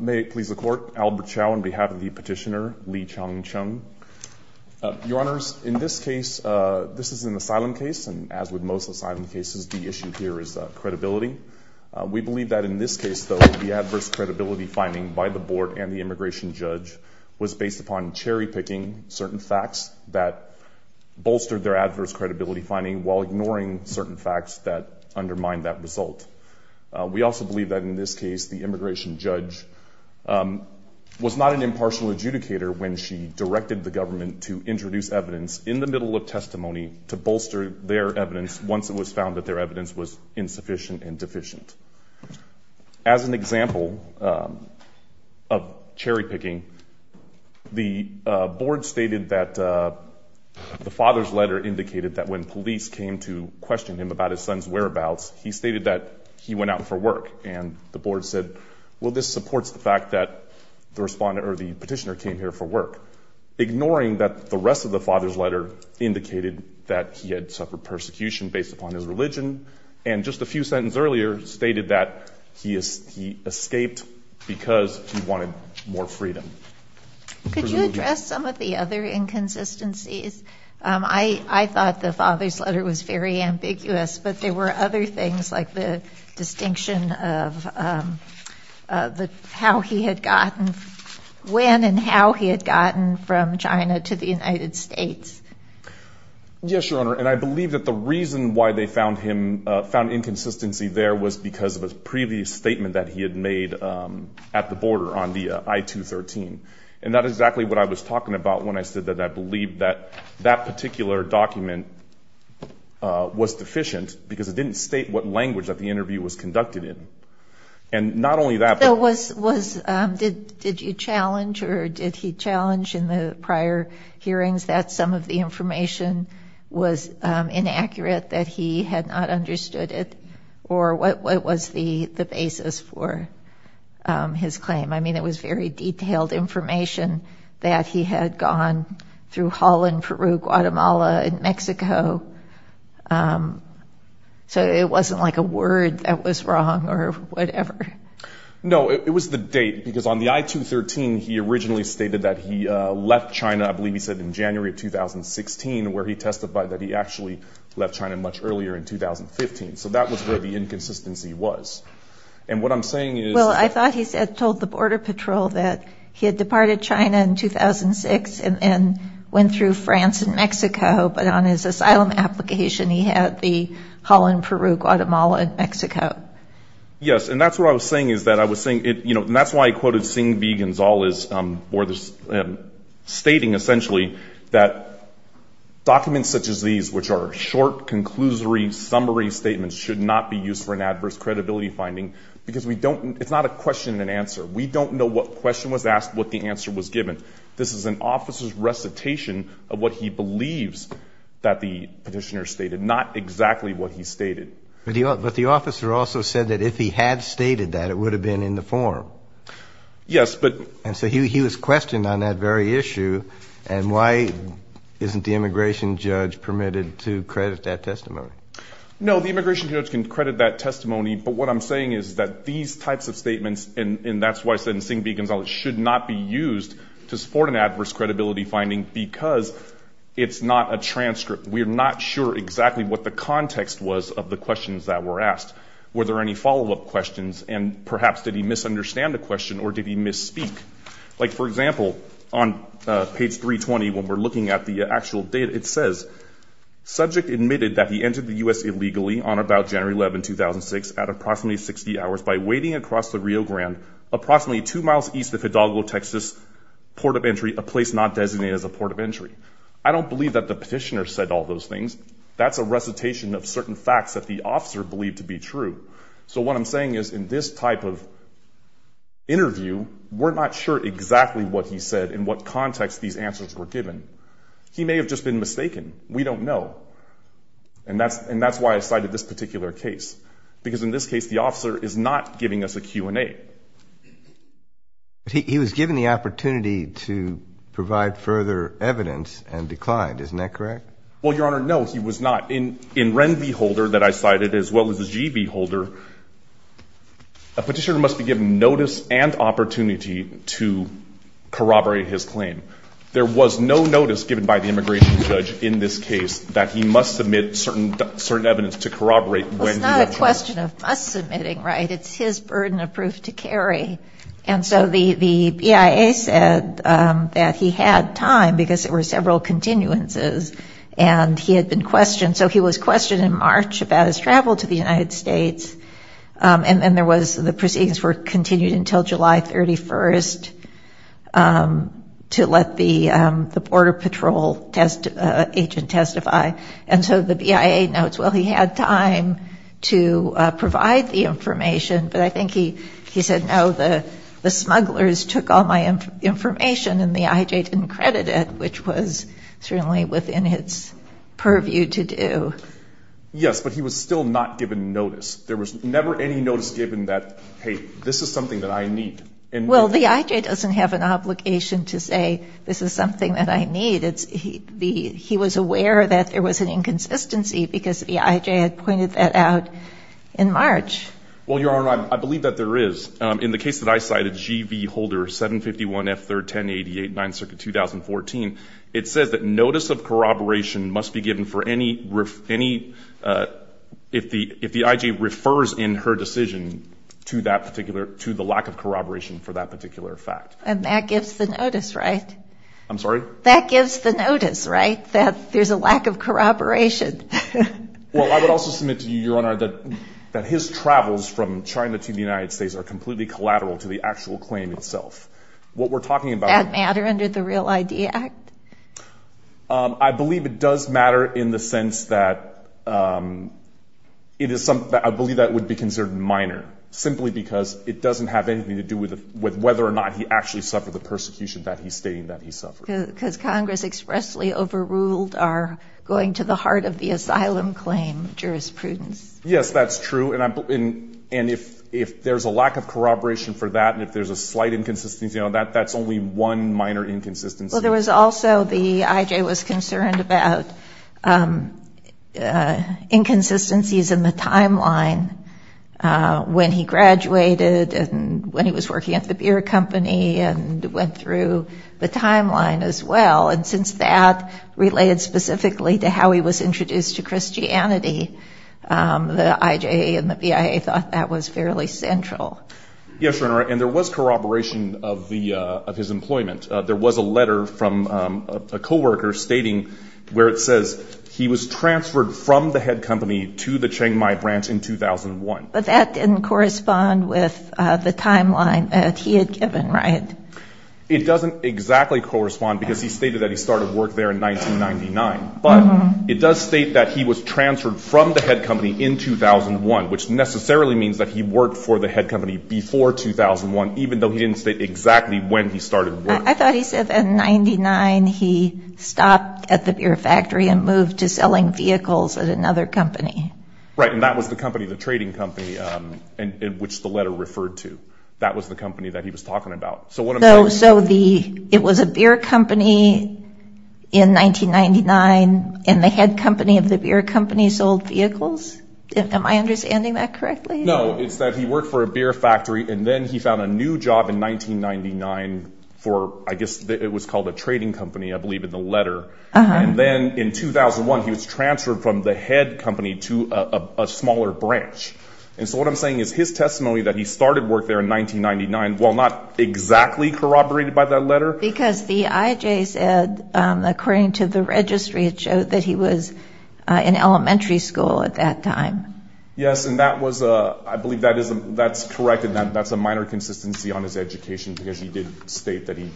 May it please the court, Albert Chow on behalf of the petitioner Li Cheng Cheng. Your honors, in this case this is an asylum case and as with most asylum cases the issue here is credibility. We believe that in this case though the adverse credibility finding by the board and the immigration judge was based upon cherry-picking certain facts that bolstered their adverse credibility finding while ignoring certain facts that undermine that result. We also believe that in this case the immigration judge was not an impartial adjudicator when she directed the government to introduce evidence in the middle of testimony to bolster their evidence once it was found that their evidence was insufficient and deficient. As an example of cherry-picking the board stated that the father's letter indicated that when police came to question him about his son's whereabouts he stated that he went out for work and the board said well this supports the fact that the respondent or the petitioner came here for work ignoring that the rest of the father's letter indicated that he had suffered persecution based upon his religion and just a few sentence earlier stated that he is he escaped because he wanted more freedom. Could you address some of the other inconsistencies? I thought the father's letter was very ambiguous but there were other things like the distinction of how he had gotten when and how he had gotten from China to the United States. Yes your honor and I believe that the reason why they found him found inconsistency there was because of a previous statement that he had made at the border on the I-213 and that is exactly what I was talking about when I said that I believe that that particular document was deficient because it didn't state what language that the interview was conducted in and not only that. Did you challenge or did he challenge in the prior hearings that some of the information was inaccurate that he had not understood it or what was the the basis for his claim? I mean it was very detailed information that he had gone through Holland, Peru, Guatemala, and so it wasn't like a word that was wrong or whatever. No it was the date because on the I-213 he originally stated that he left China I believe he said in January of 2016 where he testified that he actually left China much earlier in 2015 so that was where the inconsistency was and what I'm saying is. Well I thought he said told the Border Patrol that he had departed China in 2006 and went through France and Mexico but on his asylum application he had the Holland, Peru, Guatemala, and Mexico. Yes and that's what I was saying is that I was saying it you know that's why I quoted Singh v. Gonzales or this stating essentially that documents such as these which are short conclusory summary statements should not be used for an adverse credibility finding because we don't it's not a question and answer we don't know what question was asked what the answer was given. This is an officer's recitation of what he believes that the petitioner stated not exactly what he stated. But the officer also said that if he had stated that it would have been in the form. Yes but and so he was questioned on that very issue and why isn't the immigration judge permitted to credit that testimony? No the immigration judge can credit that testimony but what I'm saying is that these types of statements and that's why I said Singh v. Gonzales should not be used to support an adverse credibility finding because it's not a transcript. We're not sure exactly what the context was of the questions that were asked. Were there any follow-up questions and perhaps did he misunderstand the question or did he misspeak? Like for example on page 320 when we're looking at the actual data it says subject admitted that he entered the US illegally on about January 11, 2006 at approximately 60 hours by waiting across the Rio Grande approximately two miles east of Hidalgo, Texas port of entry a place not designated as a port of entry. I don't believe that the petitioner said all those things. That's a recitation of certain facts that the officer believed to be true. So what I'm saying is in this type of interview we're not sure exactly what he said in what context these answers were given. He may have just been mistaken. We don't know and that's and that's why I cited this particular case because in this case the officer is not giving us a Q&A. He was given the opportunity to provide further evidence and declined isn't that correct? Well your honor no he was not. In in REN v. Holder that I cited as well as the G v. Holder a petitioner must be given notice and opportunity to corroborate his claim. There was no notice given by the immigration judge in this case that he must submit certain evidence to corroborate. It's not a question of us submitting right it's his burden of proof to carry and so the the BIA said that he had time because it were several continuances and he had been questioned so he was questioned in March about his travel to the United States and then there was the proceedings were continued until July 31st to let the the Border Patrol test agent testify and so the BIA notes well he had time to provide the information but I think he he said no the the smugglers took all my information and the IJ didn't credit it which was certainly within its purview to do. Yes but he was still not given notice there was never any notice given that hey this is something that I need. Well the IJ doesn't have an obligation to say this is something that I need it's he be he was aware that there was an inconsistency because the IJ had pointed that out in March. Well your honor I believe that there is in the case that I cited G.V. Holder 751 F 3rd 1088 9th Circuit 2014 it says that notice of corroboration must be given for any riff any if the if the IJ refers in her decision to that particular to the lack of corroboration for that particular fact. And that gives the notice right? I'm sorry? That gives the notice right that there's a lack of corroboration. Well I would also submit to you your honor that that his travels from China to the United States are completely collateral to the actual claim itself. What we're talking about. Does that matter under the Real ID Act? I believe it does matter in the sense that it is something that I believe that would be considered minor simply because it whether or not he actually suffered the persecution that he's stating that he suffered. Because Congress expressly overruled our going to the heart of the asylum claim jurisprudence. Yes that's true and I'm and if if there's a lack of corroboration for that and if there's a slight inconsistency you know that that's only one minor inconsistency. There was also the IJ was concerned about inconsistencies in the timeline when he graduated and when he was working at the beer company and went through the timeline as well and since that related specifically to how he was introduced to Christianity the IJ and the BIA thought that was fairly central. Yes your honor and there was corroboration of the of his employment. There was a letter from a co-worker stating where it says he was transferred from the head company to the Chiang Mai branch in 2001. But that didn't correspond with the timeline that he had given right? It doesn't exactly correspond because he stated that he started work there in 1999 but it does state that he was transferred from the head company in 2001 which necessarily means that he worked for the head company before 2001 even though he didn't state exactly when he started. I thought he said in 99 he stopped at the beer factory and moved to selling vehicles at another company. Right and that was the company the trading company and in which the letter referred to. That was the company that he was talking about. So it was a beer company in 1999 and the head company of the beer company sold vehicles? Am I understanding that correctly? No it's that he worked for a beer factory and then he found a new job in 1999 for I guess it was called a trading company I believe in the letter and then in 2001 he was transferred from the head company to a smaller branch. And so what I'm saying is his testimony that he started work there in 1999 while not exactly corroborated by that letter? Because the IJ said according to the registry it showed that he was in elementary school at that time. Yes and that was a I believe that is that's correct and that that's a minor consistency on his education because he did state that he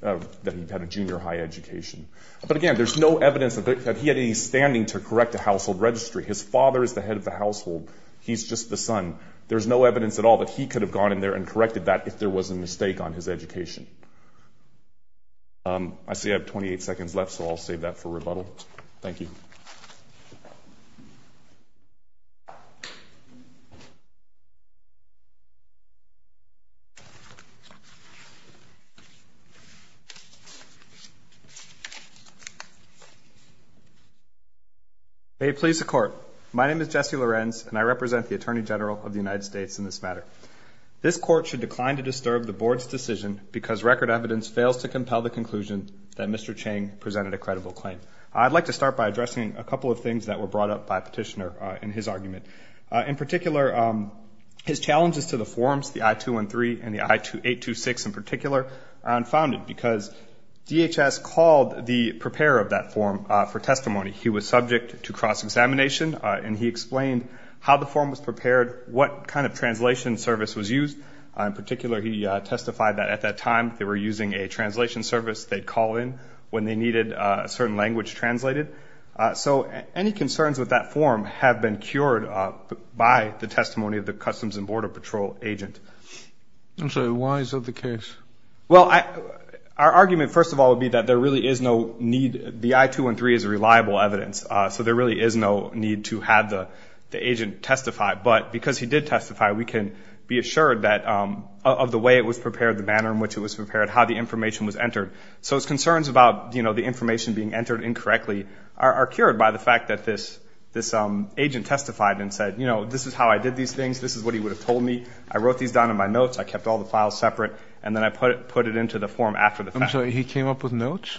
that he had a junior high education. But again there's no evidence that he had standing to correct a household registry. His father is the head of the household. He's just the son. There's no evidence at all that he could have gone in there and corrected that if there was a mistake on his education. I see I have 28 seconds left so I'll save that for rebuttal. Thank you. May it please the court. My name is Jesse Lorenz and I represent the Attorney General of the United States in this matter. This court should decline to disturb the board's decision because record evidence fails to compel the conclusion that Mr. Chang presented a credible claim. I'd like to start by addressing a couple of things that were brought up by petitioner in his argument. In particular his challenges to the forms the I-213 and the I-826 in particular are unfounded because DHS called the preparer of that form for he was subject to cross-examination and he explained how the form was prepared, what kind of translation service was used. In particular he testified that at that time they were using a translation service they'd call in when they needed a certain language translated. So any concerns with that form have been cured by the testimony of the Customs and Border Patrol agent. So why is that the case? Well I our argument first of all would be that there really is no need the I-213 is a reliable evidence so there really is no need to have the agent testify but because he did testify we can be assured that of the way it was prepared, the manner in which it was prepared, how the information was entered. So his concerns about you know the information being entered incorrectly are cured by the fact that this this agent testified and said you know this is how I did these things this is what he would have told me I wrote these down in my notes I kept all the files separate and then I put it put it into the form after the fact. I'm sorry he came up with notes?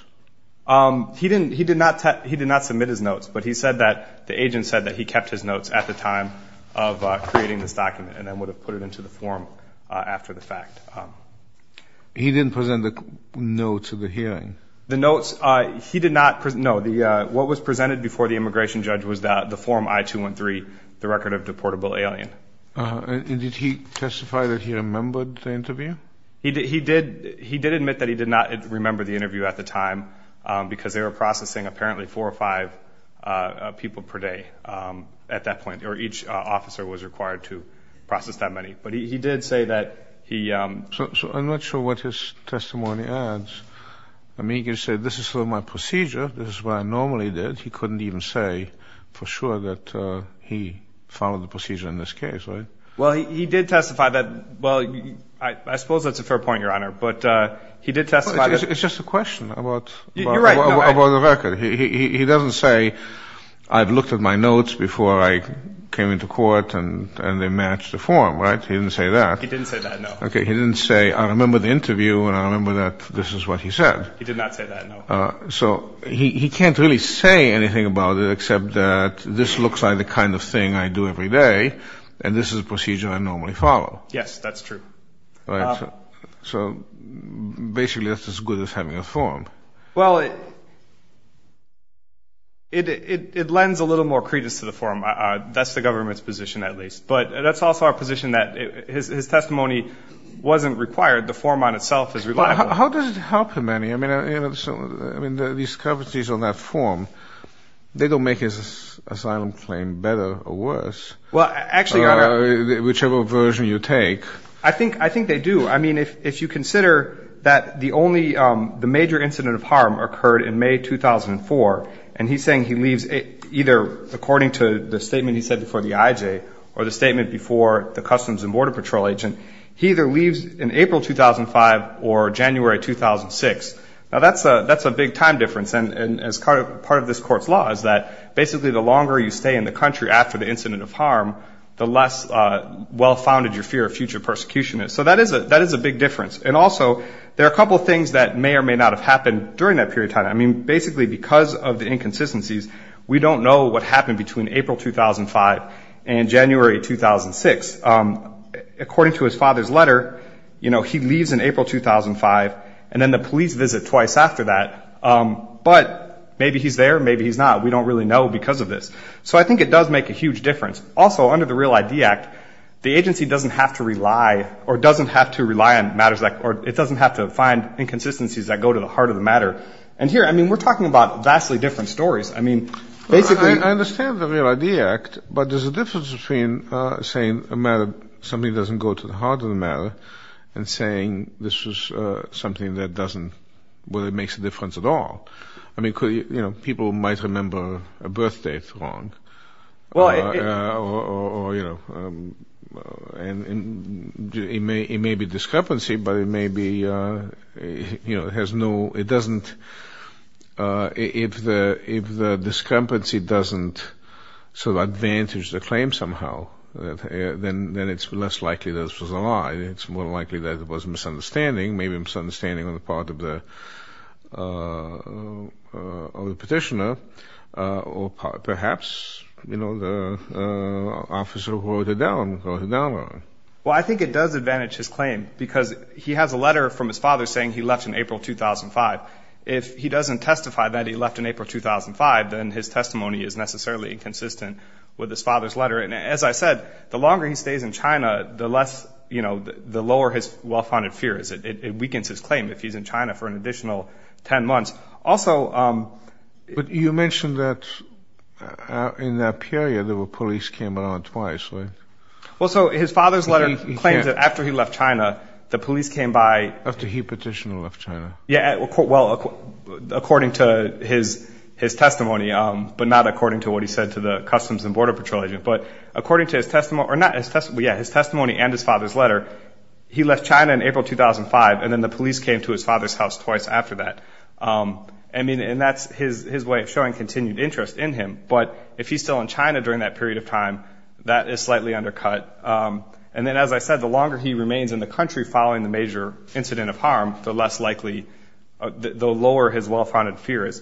He didn't he did not he did not submit his notes but he said that the agent said that he kept his notes at the time of creating this document and then would have put it into the form after the fact. He didn't present the notes of the hearing? The notes he did not present no the what was presented before the immigration judge was that the form I-213 the record of deportable alien. Did he testify that he admitted that he did not remember the interview at the time because they were processing apparently four or five people per day at that point or each officer was required to process that many but he did say that he. So I'm not sure what his testimony adds I mean you say this is for my procedure this is what I normally did he couldn't even say for sure that he followed the procedure in this case right? Well he did testify that well I suppose that's a fair point your but he did testify. It's just a question about the record he doesn't say I've looked at my notes before I came into court and and they match the form right? He didn't say that. He didn't say that no. Okay he didn't say I remember the interview and I remember that this is what he said. He did not say that no. So he can't really say anything about it except that this looks like the kind of thing I do every day and this is a procedure I normally follow. Yes that's true. All right so basically that's as good as having a form. Well it it lends a little more credence to the form that's the government's position at least but that's also our position that his testimony wasn't required the form on itself is reliable. How does it help him any I mean you know so I mean these coverties on that form they don't make his asylum claim better or worse. Well whichever version you take. I think I think they do I mean if you consider that the only the major incident of harm occurred in May 2004 and he's saying he leaves it either according to the statement he said before the IJ or the statement before the Customs and Border Patrol agent he either leaves in April 2005 or January 2006. Now that's a that's a big time difference and and as part of part of this court's law is that basically the longer you stay in the country after the incident of harm the less well-founded your fear of future persecution is. So that is a that is a big difference and also there are a couple of things that may or may not have happened during that period of time. I mean basically because of the inconsistencies we don't know what happened between April 2005 and January 2006. According to his father's letter you know he leaves in April 2005 and then the police visit twice after that but maybe he's there maybe he's not we don't really know because of this. So I think it does make a huge difference. Also under the Real ID Act the agency doesn't have to rely or doesn't have to rely on matters like or it doesn't have to find inconsistencies that go to the heart of the matter and here I mean we're talking about vastly different stories. I mean basically I understand the Real ID Act but there's a difference between saying a matter something doesn't go to the heart of the matter and saying this was something that doesn't well it makes a difference at all. I mean could you know people might remember a birth date wrong. Well you know and it may be discrepancy but it may be you know it has no it doesn't if the if the discrepancy doesn't so advantage the claim somehow then then it's less likely this was a lie it's more likely that it was misunderstanding maybe misunderstanding on the part of the petitioner or perhaps you know the officer who wrote it down. Well I think it does advantage his claim because he has a letter from his father saying he left in April 2005. If he doesn't testify that he left in April 2005 then his testimony is necessarily inconsistent with his father's letter and as I said the longer he stays in China the less you know the lower his well-founded fear is it weakens his claim if he's in China for an additional 10 months also. But you mentioned that in that period there were police came around twice. Well so his father's letter claims that after he left China the police came by. After he petitioned and left China. Yeah well according to his his testimony but not according to what he said to the Customs and Border Patrol agent but according to his testimony or not his testimony yeah his testimony and his father's letter he left China in April 2005 and then the police came to his father's house twice after that. I mean and that's his his way of showing continued interest in him but if he's still in China during that period of time that is slightly undercut and then as I said the longer he remains in the country following the major incident of harm the less likely the lower his well-founded fear is.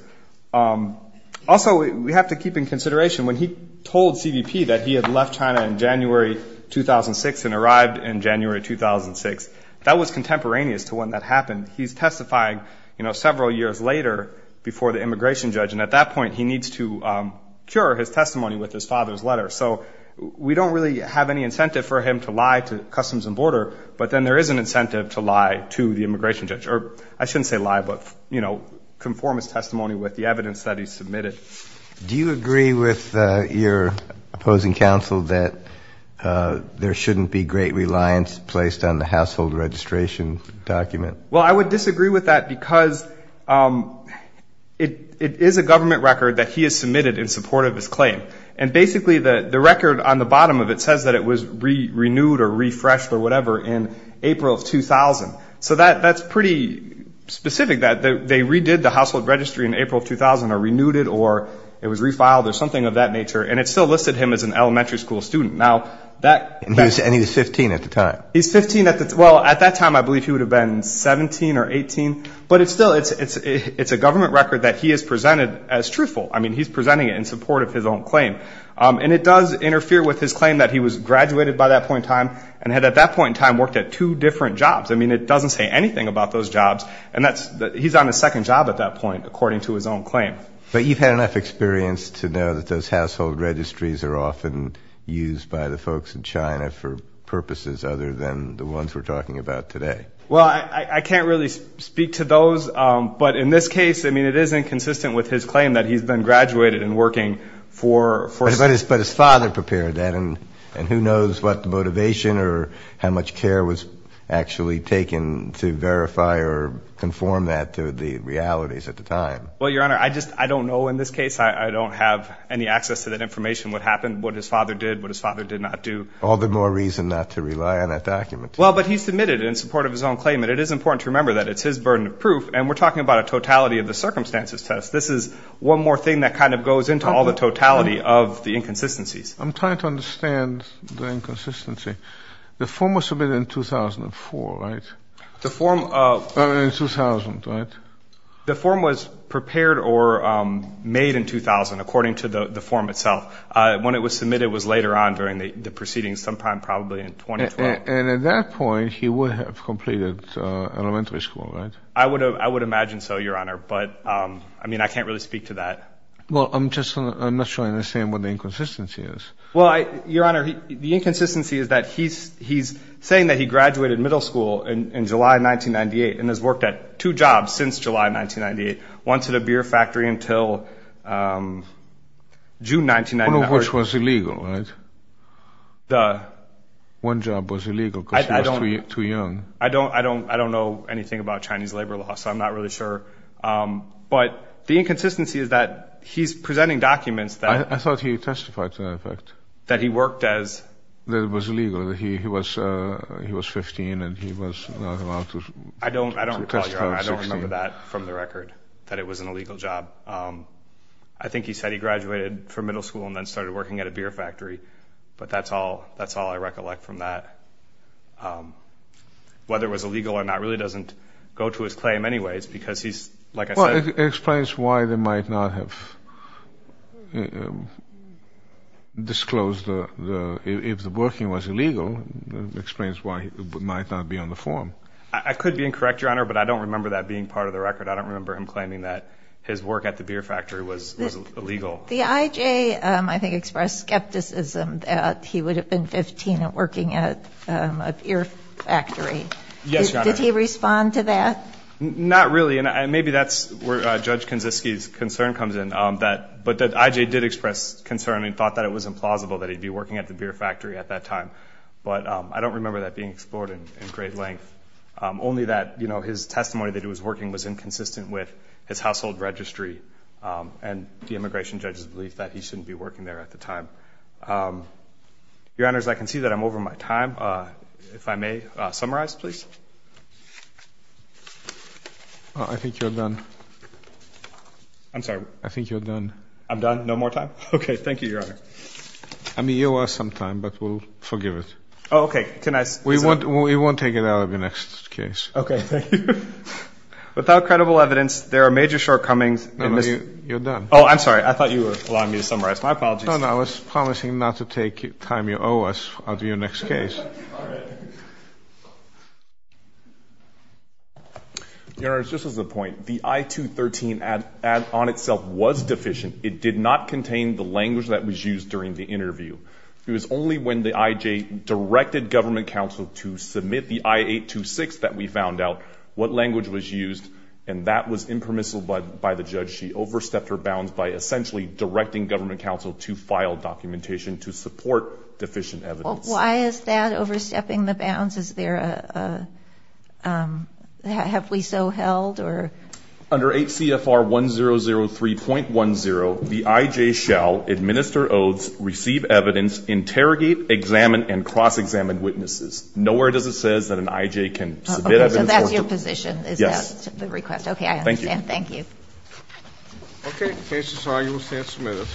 Also we have to keep in consideration when he told CBP that he had left China in January 2006 that was contemporaneous to when that happened. He's testifying you know several years later before the immigration judge and at that point he needs to cure his testimony with his father's letter. So we don't really have any incentive for him to lie to Customs and Border but then there is an incentive to lie to the immigration judge or I shouldn't say lie but you know conform his testimony with the evidence that he submitted. Do you agree with your opposing counsel that there shouldn't be great reliance placed on the household registration document? Well I would disagree with that because it is a government record that he has submitted in support of his claim and basically the the record on the bottom of it says that it was renewed or refreshed or whatever in April 2000. So that that's pretty specific that they redid the household registry in April 2000 or renewed it or it was refiled or something of that nature and it still listed him as an elementary school student. Now that... And he was 15 at the time? He's 15 at the well at that time I believe he would have been 17 or 18 but it's still it's it's it's a government record that he has presented as truthful. I mean he's presenting it in support of his own claim and it does interfere with his claim that he was graduated by that point in time and had at that point in time worked at two different jobs. I mean it doesn't say anything about those jobs and that's that he's on a second job at that point according to his own claim. But you've had enough experience to know that those household registries are often used by the folks in China for purposes other than the ones we're talking about today? Well I I can't really speak to those but in this case I mean it isn't consistent with his claim that he's been graduated and working for... But his father prepared that and and who knows what the motivation or how much care was actually taken to verify or conform that to the realities at the time? Well your honor I just I don't know in this case I don't have any access to that information what happened what his father did what his father did not do. All the more reason not to rely on that document. Well but he submitted in support of his own claim and it is important to remember that it's his burden of proof and we're talking about a totality of the circumstances test. This is one more thing that kind of goes into all the totality of the inconsistencies. I'm trying to understand the inconsistency. The form was submitted in 2004 right? The form of... made in 2000 according to the the form itself. When it was submitted was later on during the proceedings sometime probably in 2012. And at that point he would have completed elementary school right? I would have I would imagine so your honor but I mean I can't really speak to that. Well I'm just I'm not sure I understand what the inconsistency is. Well your honor the inconsistency is that he's he's saying that he graduated middle school in July 1998 and has a beer factory until June 1999. Which was illegal right? The one job was illegal because he was too young. I don't I don't I don't know anything about Chinese labor law so I'm not really sure. But the inconsistency is that he's presenting documents that... I thought he testified to that fact. That he worked as... That it was illegal that he was he was 15 and he was... I don't I don't remember that from the legal job. I think he said he graduated from middle school and then started working at a beer factory. But that's all that's all I recollect from that. Whether it was illegal or not really doesn't go to his claim anyways because he's like I said... Well it explains why they might not have disclosed the if the working was illegal. Explains why he might not be on the form. I could be incorrect your honor but I don't remember that being part of the record. I don't remember him claiming that his work at the beer factory was illegal. The IJ I think expressed skepticism that he would have been 15 and working at a beer factory. Yes. Did he respond to that? Not really and maybe that's where Judge Kaczynski's concern comes in. That but that IJ did express concern and thought that it was implausible that he'd be working at the beer factory at that time. But I don't remember that being explored in great length. Only that you know his testimony that he was working was inconsistent with his household registry and the immigration judge's belief that he shouldn't be working there at the time. Your honors I can see that I'm over my time. If I may summarize please. I think you're done. I'm sorry. I think you're done. I'm done. No more time? Okay thank you your honor. I mean you are some time but we'll forgive it. Okay can I... We won't take it out of your next case. Okay. Without credible evidence there are major shortcomings. You're done. Oh I'm sorry I thought you were allowing me to summarize. My apologies. I was promising not to take time you owe us out of your next case. Your honors just as a point the I-213 ad on itself was deficient. It did not contain the language that was used during the interview. It was only when the IJ directed government counsel to submit the I-826 that we found out what language was used and that was impermissible by the judge. She overstepped her bounds by essentially directing government counsel to file documentation to support deficient evidence. Why is that overstepping the bounds? Is there a... Have we so held or? Under 8 CFR 1003.10 the IJ shall administer oaths, receive evidence, interrogate, examine, and cross-examine witnesses. Nowhere does it says that an IJ can submit evidence. So that's your position? Yes. Is that the request? Okay I understand. Thank you. Okay the case is filed. You will stand submitted.